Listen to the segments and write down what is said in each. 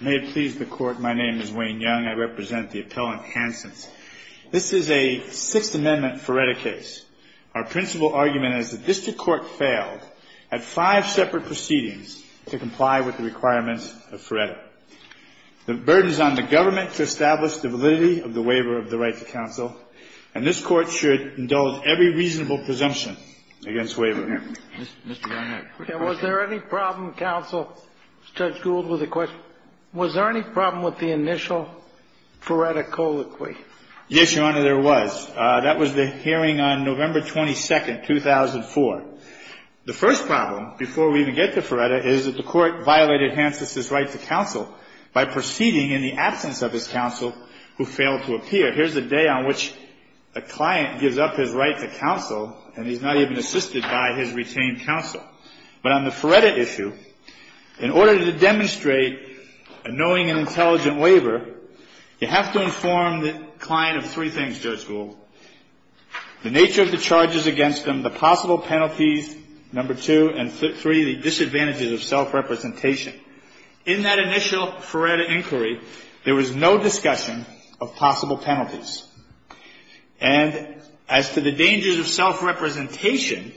May it please the Court, my name is Wayne Young. I represent the appellant Hantzis. This is a Sixth Amendment Feretta case. Our principal argument is that this court failed at five separate proceedings to comply with the requirements of Feretta. The burden is on the government to establish the validity of the waiver of the right to counsel, and this court should indulge every reasonable presumption against waiver. Mr. Young, I have a quick question. Was there any problem, counsel? Judge Gould with a question. Was there any problem with the initial Feretta colloquy? Yes, Your Honor, there was. That was the hearing on November 22nd, 2004. The first problem, before we even get to Feretta, is that the court violated Hantzis' right to counsel by proceeding in the absence of his counsel, who failed to appear. Here's a day on which a client gives up his right to counsel, and he's not even assisted by his retained counsel. But on the Feretta issue, in order to demonstrate a knowing and intelligent waiver, you have to inform the client of three things, Judge Gould. The nature of the charges against him, the possible penalties, number two, and three, the disadvantages of self-representation. In that initial Feretta inquiry, there was no discussion of possible penalties. And as to the dangers of self-representation,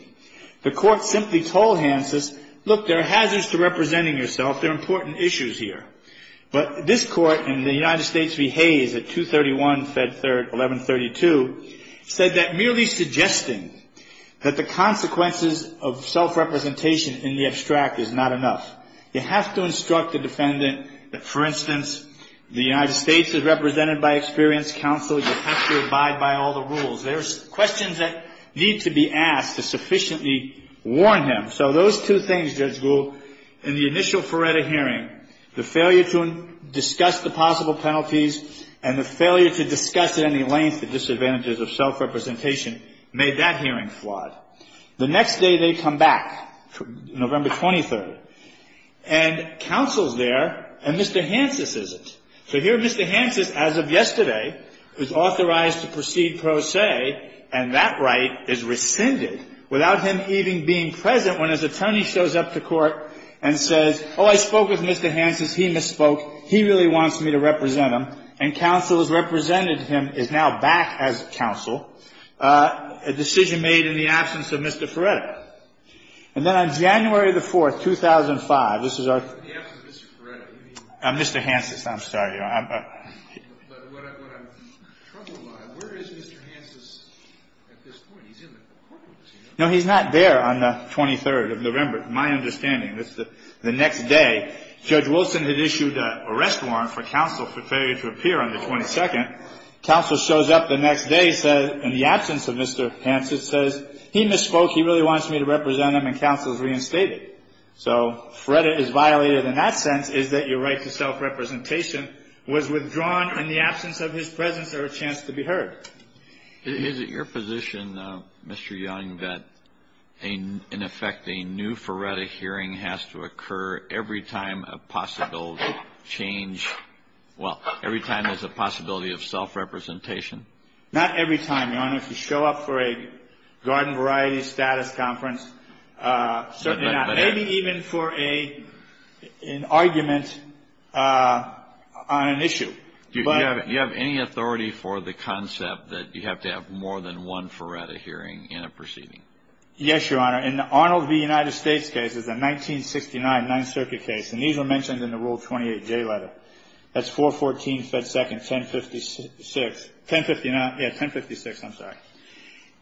the court simply told Hantzis, look, there are hazards to representing yourself. There are important issues here. But this court in the United States v. Hayes at 231, Fed 3rd, 1132, said that merely suggesting that the consequences of self-representation in the abstract is not enough. You have to instruct the defendant that, for instance, the United States is represented by experienced counsel. You have to abide by all the rules. There's questions that need to be asked to sufficiently warn him. So those two things, Judge Gould, in the initial Feretta hearing, the failure to discuss the possible penalties and the failure to discuss at any length the disadvantages of self-representation, made that hearing flawed. The next day they come back, November 23rd. And counsel's there, and Mr. Hantzis isn't. So here Mr. Hantzis, as of yesterday, is authorized to proceed pro se, and that right is rescinded without him even being present when his attorney shows up to court and says, oh, I spoke with Mr. Hantzis. He misspoke. He really wants me to represent him. And counsel has represented him, is now back as counsel. A decision made in the absence of Mr. Feretta. And then on January the 4th, 2005, this is our ---- In the absence of Mr. Feretta, you mean? Mr. Hantzis. I'm sorry. But what I'm troubled by, where is Mr. Hantzis at this point? He's in the courtroom. No, he's not there on the 23rd of November. My understanding is that the next day, Judge Wilson had issued a arrest warrant for counsel for failure to appear on the 22nd. Counsel shows up the next day and says, in the absence of Mr. Hantzis, says, he misspoke. He really wants me to represent him, and counsel is reinstated. So Feretta is violated in that sense, is that your right to self-representation was withdrawn in the absence of his presence or a chance to be heard. Is it your position, Mr. Young, that in effect a new Feretta hearing has to occur every time a possible change, well, every time there's a possibility of self-representation? Not every time, Your Honor. If you show up for a garden variety status conference, certainly not. Maybe even for an argument on an issue. Do you have any authority for the concept that you have to have more than one Feretta hearing in a proceeding? Yes, Your Honor. In the Arnold v. United States case, it's a 1969 Ninth Circuit case, and these were mentioned in the Rule 28J letter. That's 414 Fed Second, 1056. Yeah, 1056, I'm sorry.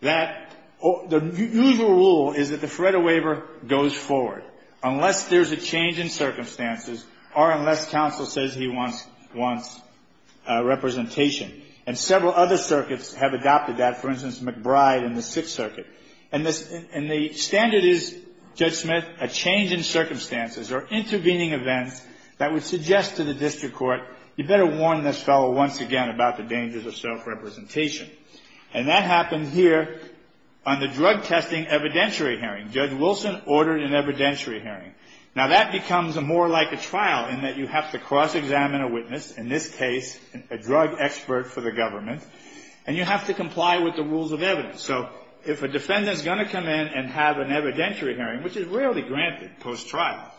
The usual rule is that the Feretta waiver goes forward unless there's a change in circumstances or unless counsel says he wants representation. And several other circuits have adopted that. For instance, McBride in the Sixth Circuit. And the standard is, Judge Smith, a change in circumstances or intervening events that would suggest to the district court, you better warn this fellow once again about the dangers of self-representation. And that happened here on the drug testing evidentiary hearing. Judge Wilson ordered an evidentiary hearing. Now, that becomes more like a trial in that you have to cross-examine a witness, in this case a drug expert for the government, and you have to comply with the rules of evidence. So if a defendant is going to come in and have an evidentiary hearing, which is rarely granted post-trial,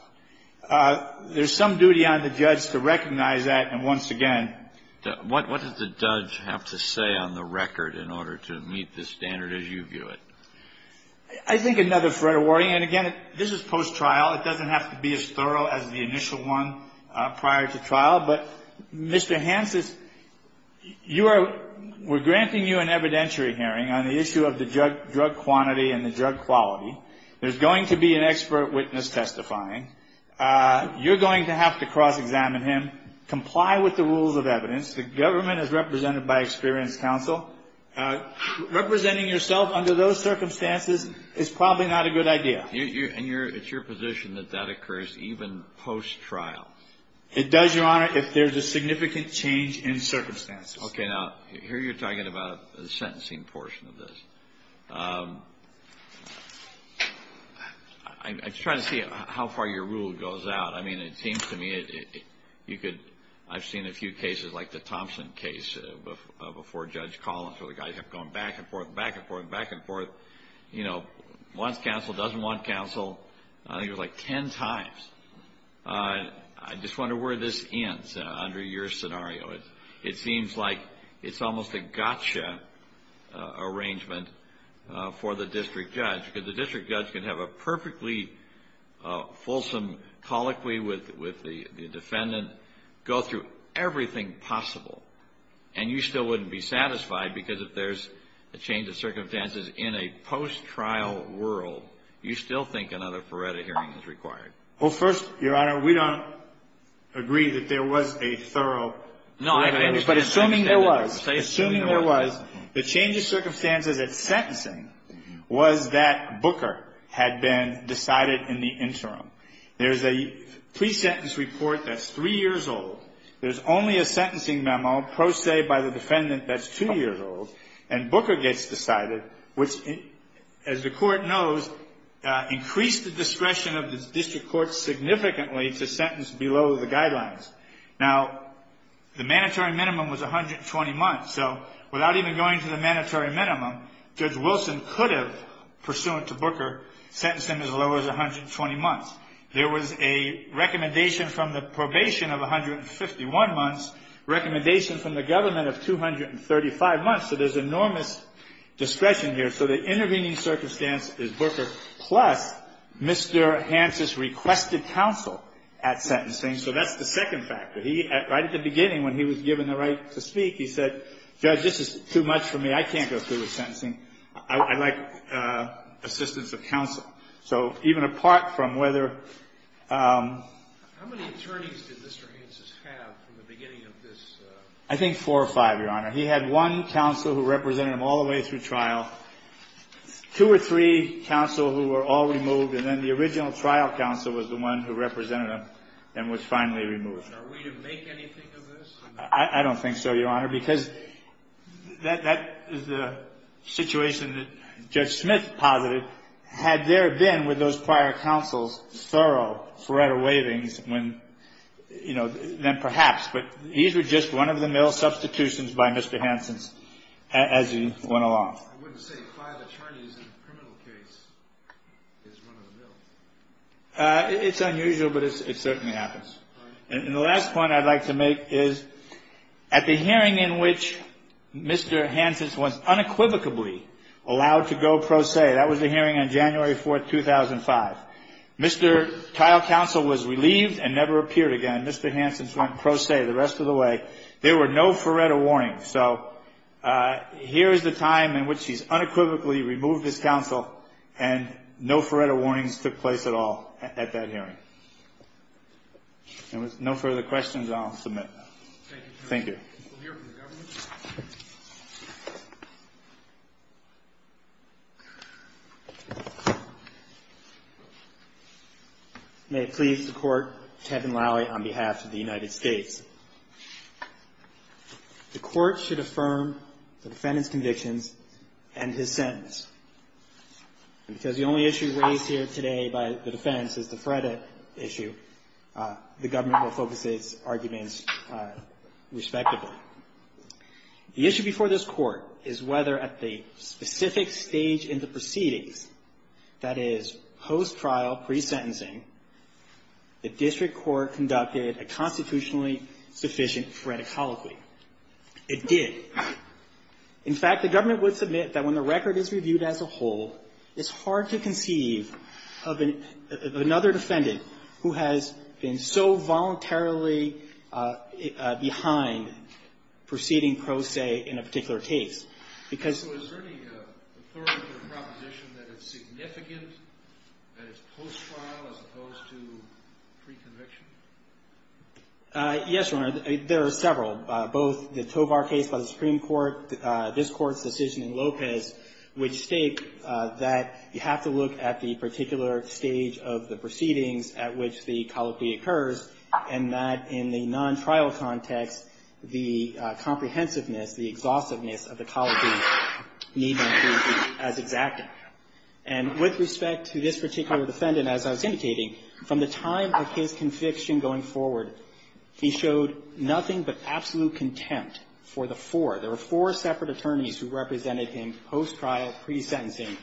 there's some duty on the judge to recognize that and once again. What does the judge have to say on the record in order to meet the standard as you view it? I think another Feretta warning, and again, this is post-trial. It doesn't have to be as thorough as the initial one prior to trial. But, Mr. Hansen, you are, we're granting you an evidentiary hearing on the issue of the drug quantity and the drug quality. There's going to be an expert witness testifying. You're going to have to cross-examine him, comply with the rules of evidence. The government is represented by experienced counsel. Representing yourself under those circumstances is probably not a good idea. And it's your position that that occurs even post-trial? It does, Your Honor, if there's a significant change in circumstances. Okay, now, here you're talking about the sentencing portion of this. I'm just trying to see how far your rule goes out. I mean, it seems to me you could, I've seen a few cases like the Thompson case before Judge Collins where the guys kept going back and forth, back and forth, back and forth. You know, wants counsel, doesn't want counsel. I think it was like ten times. I just wonder where this ends under your scenario. It seems like it's almost a gotcha arrangement for the district judge. Because the district judge can have a perfectly fulsome colloquy with the defendant, go through everything possible. And you still wouldn't be satisfied because if there's a change of circumstances in a post-trial world, you still think another Feretta hearing is required. Well, first, Your Honor, we don't agree that there was a thorough Feretta hearing. No, I understand. But assuming there was. Assuming there was, the change of circumstances at sentencing was that Booker had been decided in the interim. There's a pre-sentence report that's three years old. There's only a sentencing memo pro se by the defendant that's two years old. And Booker gets decided, which, as the Court knows, increased the discretion of the district court significantly to sentence below the guidelines. Now, the mandatory minimum was 120 months. So without even going to the mandatory minimum, Judge Wilson could have, pursuant to Booker, sentenced him as low as 120 months. There was a recommendation from the probation of 151 months, recommendation from the government of 235 months. So there's enormous discretion here. So the intervening circumstance is Booker plus Mr. Hansen's requested counsel at sentencing. So that's the second factor. He, right at the beginning when he was given the right to speak, he said, Judge, this is too much for me. I can't go through with sentencing. I'd like assistance of counsel. So even apart from whether – How many attorneys did Mr. Hansen have from the beginning of this? I think four or five, Your Honor. He had one counsel who represented him all the way through trial, two or three counsel who were all removed, and then the original trial counsel was the one who represented him and was finally removed. Are we to make anything of this? I don't think so, Your Honor, because that is the situation that Judge Smith posited. Had there been, with those prior counsels, thorough, thorough waivings, when – you know, then perhaps. But these were just one-of-the-mill substitutions by Mr. Hansen as he went along. I wouldn't say five attorneys in a criminal case is one-of-the-mill. It's unusual, but it certainly happens. And the last point I'd like to make is at the hearing in which Mr. Hansen was unequivocally allowed to go pro se, that was the hearing on January 4th, 2005, Mr. trial counsel was relieved and never appeared again. Mr. Hansen went pro se the rest of the way. There were no Faretta warnings. So here is the time in which he's unequivocally removed his counsel and no Faretta warnings took place at all at that hearing. And with no further questions, I'll submit. Thank you. We'll hear from the government. Thank you. May it please the Court, Tedden Lally on behalf of the United States. The Court should affirm the defendant's convictions and his sentence. And because the only issue raised here today by the defense is the Faretta issue, the government will focus its arguments respectively. The issue before this Court is whether at the specific stage in the proceedings, that is, post-trial, pre-sentencing, the district court conducted a constitutionally sufficient Faretta colloquy. It did. In fact, the government would submit that when the record is reviewed as a whole, it's hard to conceive of another defendant who has been so voluntarily behind proceeding pro se in a particular case. So is there any authority or proposition that it's significant that it's post-trial as opposed to pre-conviction? Yes, Your Honor. There are several, both the Tovar case by the Supreme Court, this Court's decision in Lopez, which state that you have to look at the particular stage of the proceedings at which the colloquy occurs, and that in the non-trial context, the comprehensiveness, the exhaustiveness of the colloquy need not be as exact. And with respect to this particular defendant, as I was indicating, from the time of his conviction going forward, he showed nothing but absolute contempt for the four. There were four separate attorneys who represented him post-trial, pre-sentencing,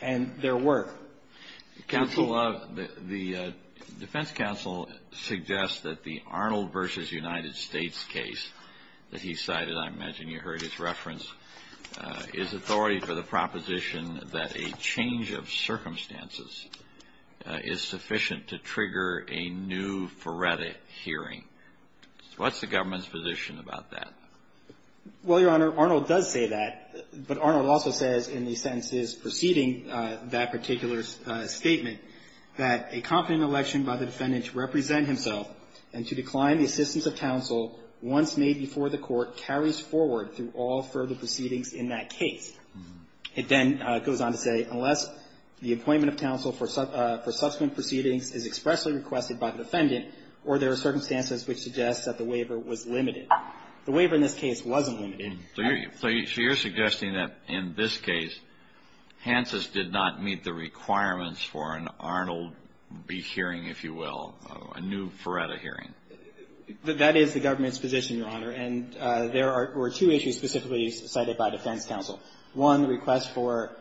and their work. Counsel, the defense counsel suggests that the Arnold v. United States case that he cited, I imagine you heard his reference, is authority for the proposition that a change of circumstances is sufficient to trigger a new forensic hearing. What's the government's position about that? Well, Your Honor, Arnold does say that, but Arnold also says in the sentences preceding that particular statement that a competent election by the defendant to represent himself and to decline the assistance of counsel once made before the court carries forward through all further proceedings in that case. It then goes on to say, unless the appointment of counsel for subsequent proceedings is expressly requested by the defendant or there are circumstances which suggest that the waiver was limited. The waiver in this case wasn't limited. So you're suggesting that in this case, Hansen's did not meet the requirements for an Arnold v. hearing, if you will, a new Faretta hearing. That is the government's position, Your Honor. And there were two issues specifically cited by defense counsel. One, the request for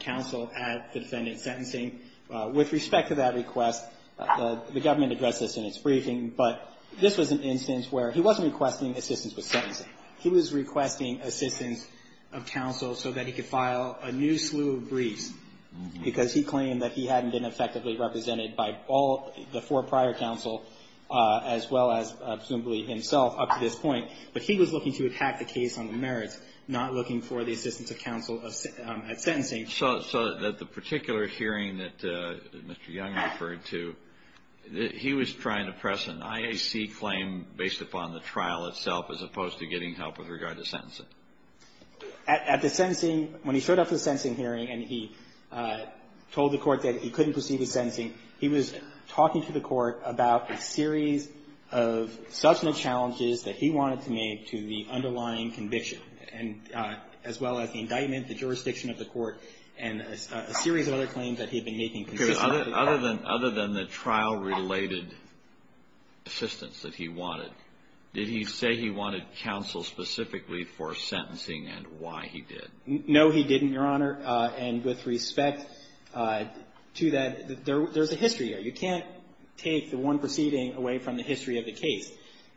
counsel at the defendant's sentencing. With respect to that request, the government addressed this in its briefing, but this was an instance where he wasn't requesting assistance with sentencing. He was requesting assistance of counsel so that he could file a new slew of briefs, because he claimed that he hadn't been effectively represented by all the four prior counsel, as well as presumably himself up to this point. But he was looking to attack the case on the merits, not looking for the assistance of counsel at sentencing. So that the particular hearing that Mr. Young referred to, he was trying to press an IAC claim based upon the trial itself as opposed to getting help with regard to sentencing? At the sentencing, when he showed up for the sentencing hearing and he told the court that he couldn't proceed with sentencing, he was talking to the court about a series of substantive challenges that he wanted to make to the underlying conviction, as well as the indictment, the jurisdiction of the court, and a series of other claims that he had been making. Okay. Other than the trial-related assistance that he wanted, did he say he wanted counsel specifically for sentencing and why he did? No, he didn't, Your Honor. And with respect to that, there's a history here. You can't take the one proceeding away from the history of the case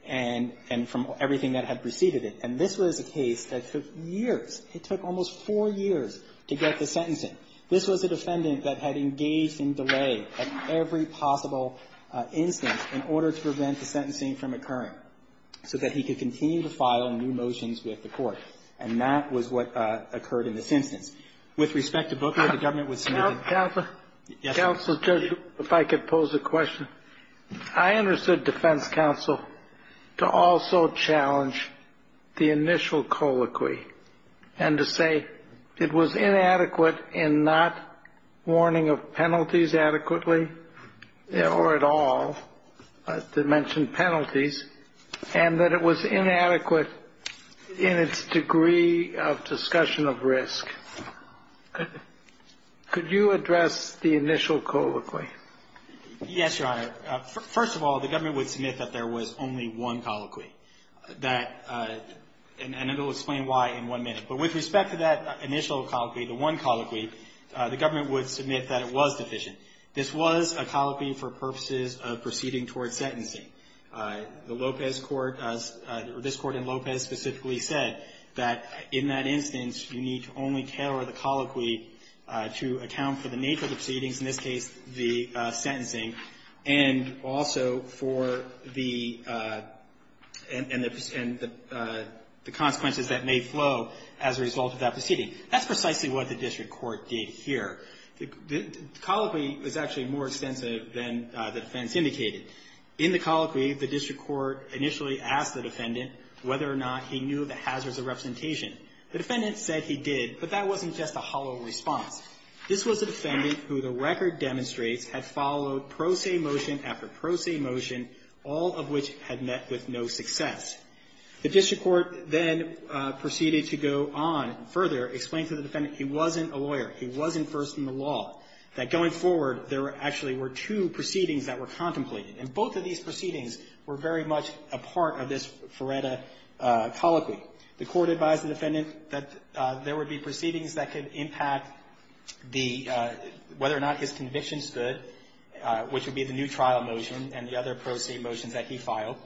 and from everything that had preceded it. And this was a case that took years. It took almost four years to get the sentencing. This was a defendant that had engaged in delay at every possible instance in order to prevent the sentencing from occurring so that he could continue to file new motions with the court. And that was what occurred in this instance. With respect to Booker, the government was submitted to counsel. Counsel, Judge, if I could pose a question. I understood defense counsel to also challenge the initial colloquy and to say it was inadequate in not warning of penalties adequately or at all, to mention penalties, and that it was inadequate in its degree of discussion of risk. Could you address the initial colloquy? Yes, Your Honor. First of all, the government would submit that there was only one colloquy, and it will explain why in one minute. But with respect to that initial colloquy, the one colloquy, the government would submit that it was deficient. This was a colloquy for purposes of proceeding towards sentencing. The Lopez Court or this Court in Lopez specifically said that in that instance, you need to only tailor the colloquy to account for the nature of the proceedings, in this case the sentencing, and also for the consequences that may flow as a result of that proceeding. That's precisely what the district court did here. The colloquy is actually more extensive than the defense indicated. In the colloquy, the district court initially asked the defendant whether or not he knew the hazards of representation. The defendant said he did, but that wasn't just a hollow response. This was a defendant who the record demonstrates had followed pro se motion after pro se motion, all of which had met with no success. The district court then proceeded to go on further, explain to the defendant he wasn't a lawyer, he wasn't first in the law, that going forward there actually were two proceedings that were contemplated. And both of these proceedings were very much a part of this Feretta colloquy. The court advised the defendant that there would be proceedings that could impact the — whether or not his convictions stood, which would be the new trial motion and the other pro se motions that he filed,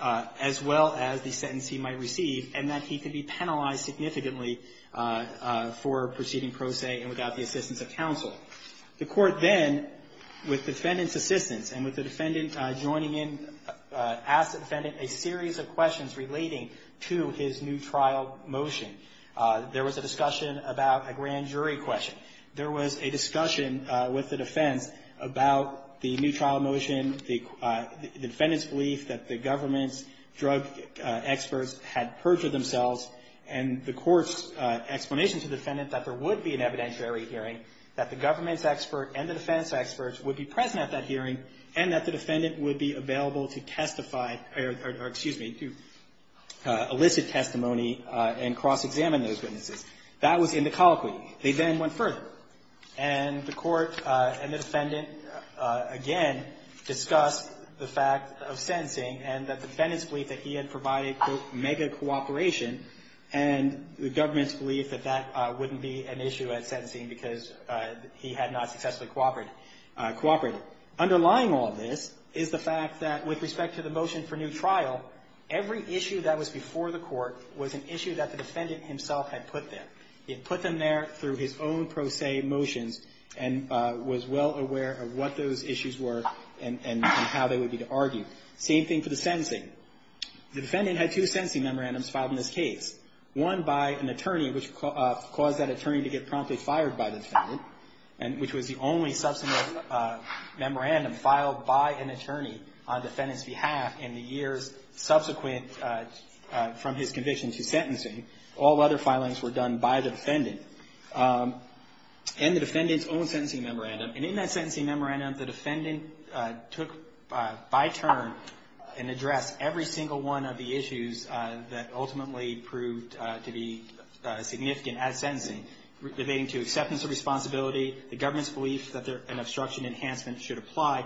as well as the sentence he might receive, and that he could be penalized significantly for proceeding pro se and without the assistance of counsel. The court then, with the defendant's assistance and with the defendant joining in, asked the defendant a series of questions relating to his new trial motion. There was a discussion about a grand jury question. There was a discussion with the defense about the new trial motion, the defendant's belief that the government's drug experts had perjured themselves, and the court's explanation to the defendant that there would be an evidentiary hearing, that the government's expert and the defense experts would be present at that hearing, and that the defendant would be available to testify or, excuse me, to elicit testimony and cross-examine those witnesses. That was in the colloquy. They then went further, and the court and the defendant again discussed the fact of sentencing and the defendant's belief that he had provided, quote, mega cooperation, and the government's belief that that wouldn't be an issue at sentencing because he had not successfully cooperated. Underlying all this is the fact that with respect to the motion for new trial, every issue that was before the court was an issue that the defendant himself had put there. He had put them there through his own pro se motions and was well aware of what those were and was able to argue. Same thing for the sentencing. The defendant had two sentencing memorandums filed in this case, one by an attorney which caused that attorney to get promptly fired by the defendant, which was the only substantive memorandum filed by an attorney on the defendant's behalf in the years subsequent from his conviction to sentencing. All other filings were done by the defendant, and the defendant's own sentencing memorandum. And in that sentencing memorandum, the defendant took by turn and addressed every single one of the issues that ultimately proved to be significant at sentencing, relating to acceptance of responsibility, the government's belief that an obstruction enhancement should apply,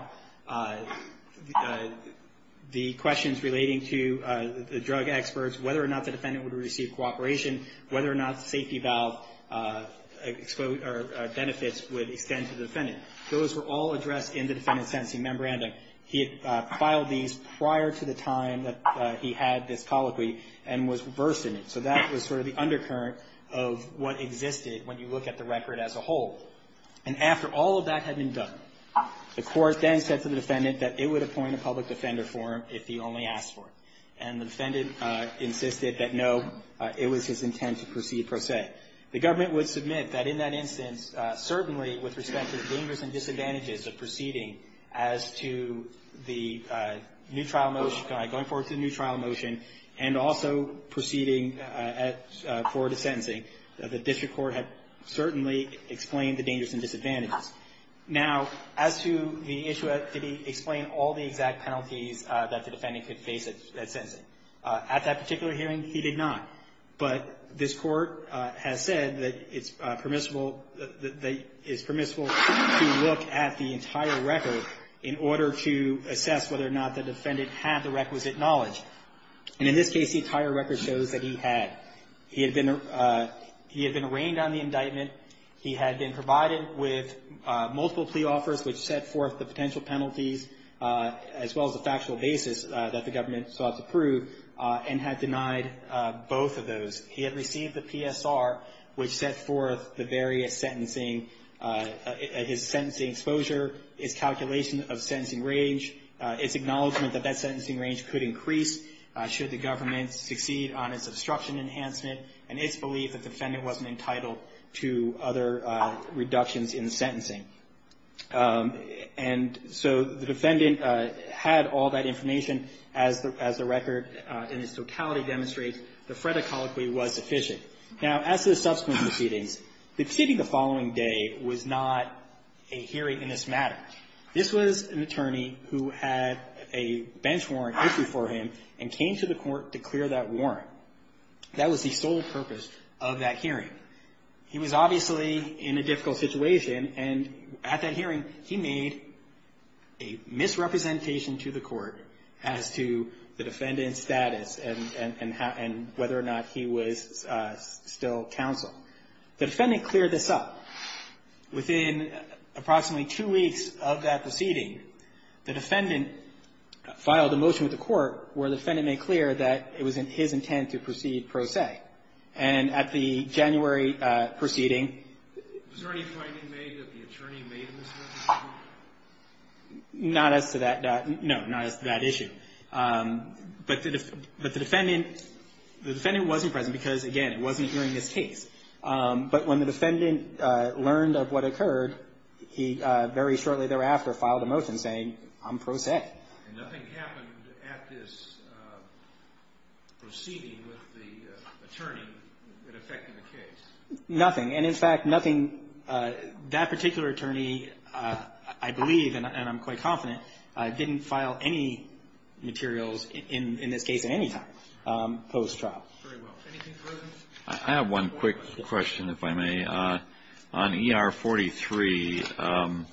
the questions relating to the drug experts, whether or not the defendant would receive cooperation, whether or not the safety valve benefits would extend to the defendant. Those were all addressed in the defendant's sentencing memorandum. He had filed these prior to the time that he had this colloquy and was versed in it. So that was sort of the undercurrent of what existed when you look at the record as a whole. And after all of that had been done, the court then said to the defendant that it would appoint a public defender for him if he only asked for it. And the defendant insisted that, no, it was his intent to proceed pro se. The government would submit that in that instance, certainly with respect to the dangers and disadvantages of proceeding as to the new trial motion, going forward to the new trial motion, and also proceeding forward to sentencing, the district court had certainly explained the dangers and disadvantages. Now, as to the issue of did he explain all the exact penalties that the defendant could face at sentencing, at that particular hearing, he did not. But this Court has said that it's permissible to look at the entire record in order to assess whether or not the defendant had the requisite knowledge. And in this case, the entire record shows that he had. He had been arraigned on the indictment. He had been provided with multiple plea offers which set forth the potential penalties, as well as the factual basis that the government sought to prove, and the defendant had denied both of those. He had received the PSR which set forth the various sentencing, his sentencing exposure, his calculation of sentencing range, his acknowledgement that that sentencing range could increase should the government succeed on its obstruction enhancement, and its belief that the defendant wasn't entitled to other reductions in sentencing. And so the defendant had all that information. As the record in its totality demonstrates, the Freda colloquy was sufficient. Now, as to the subsequent proceedings, the proceeding the following day was not a hearing in this matter. This was an attorney who had a bench warrant issued for him and came to the Court to clear that warrant. That was the sole purpose of that hearing. He was obviously in a difficult situation, and at that hearing, he made a misrepresentation to the Court as to the defendant's status and whether or not he was still counsel. The defendant cleared this up. Within approximately two weeks of that proceeding, the defendant filed a motion with the Court where the defendant made clear that it was his intent to proceed pro se. And at the January proceeding — Was there any finding made that the attorney made a misrepresentation? Not as to that — no, not as to that issue. But the defendant — the defendant wasn't present because, again, it wasn't during this case. But when the defendant learned of what occurred, he very shortly thereafter filed a motion saying, I'm pro se. And nothing happened at this proceeding with the attorney that affected the case? Nothing. And, in fact, nothing — that particular attorney, I believe, and I'm quite confident, didn't file any materials in this case at any time post-trial. Very well. Anything further? I have one quick question, if I may. On ER-43,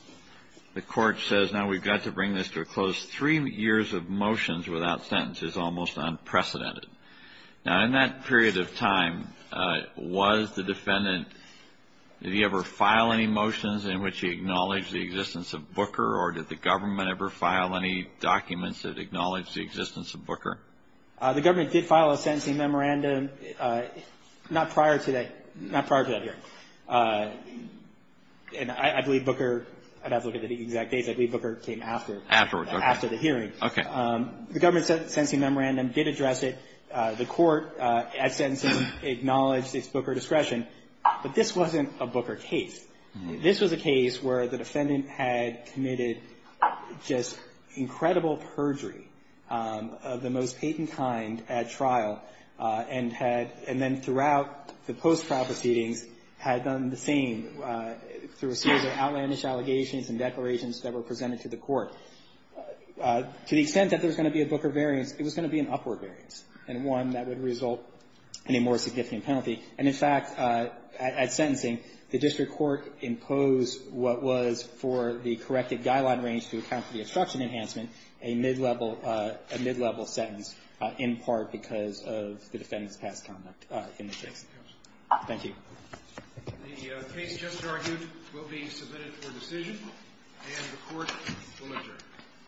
the Court says, now, we've got to bring this to a close. Three years of motions without sentences is almost unprecedented. Now, in that period of time, was the defendant — did he ever file any motions in which he acknowledged the existence of Booker? Or did the government ever file any documents that acknowledged the existence of Booker? The government did file a sentencing memorandum not prior to that hearing. And I believe Booker — I'd have to look at the exact date. I believe Booker came after. Afterward. After the hearing. Okay. The government sentencing memorandum did address it. The Court, at sentencing, acknowledged its Booker discretion. But this wasn't a Booker case. This was a case where the defendant had committed just incredible perjury of the same through a series of outlandish allegations and declarations that were presented to the Court. To the extent that there was going to be a Booker variance, it was going to be an upward variance, and one that would result in a more significant penalty. And, in fact, at sentencing, the district court imposed what was, for the corrected guideline range to account for the obstruction enhancement, a mid-level sentence, in part because of the defendant's past conduct in the case. Thank you. The case just argued will be submitted for decision, and the Court will adjourn.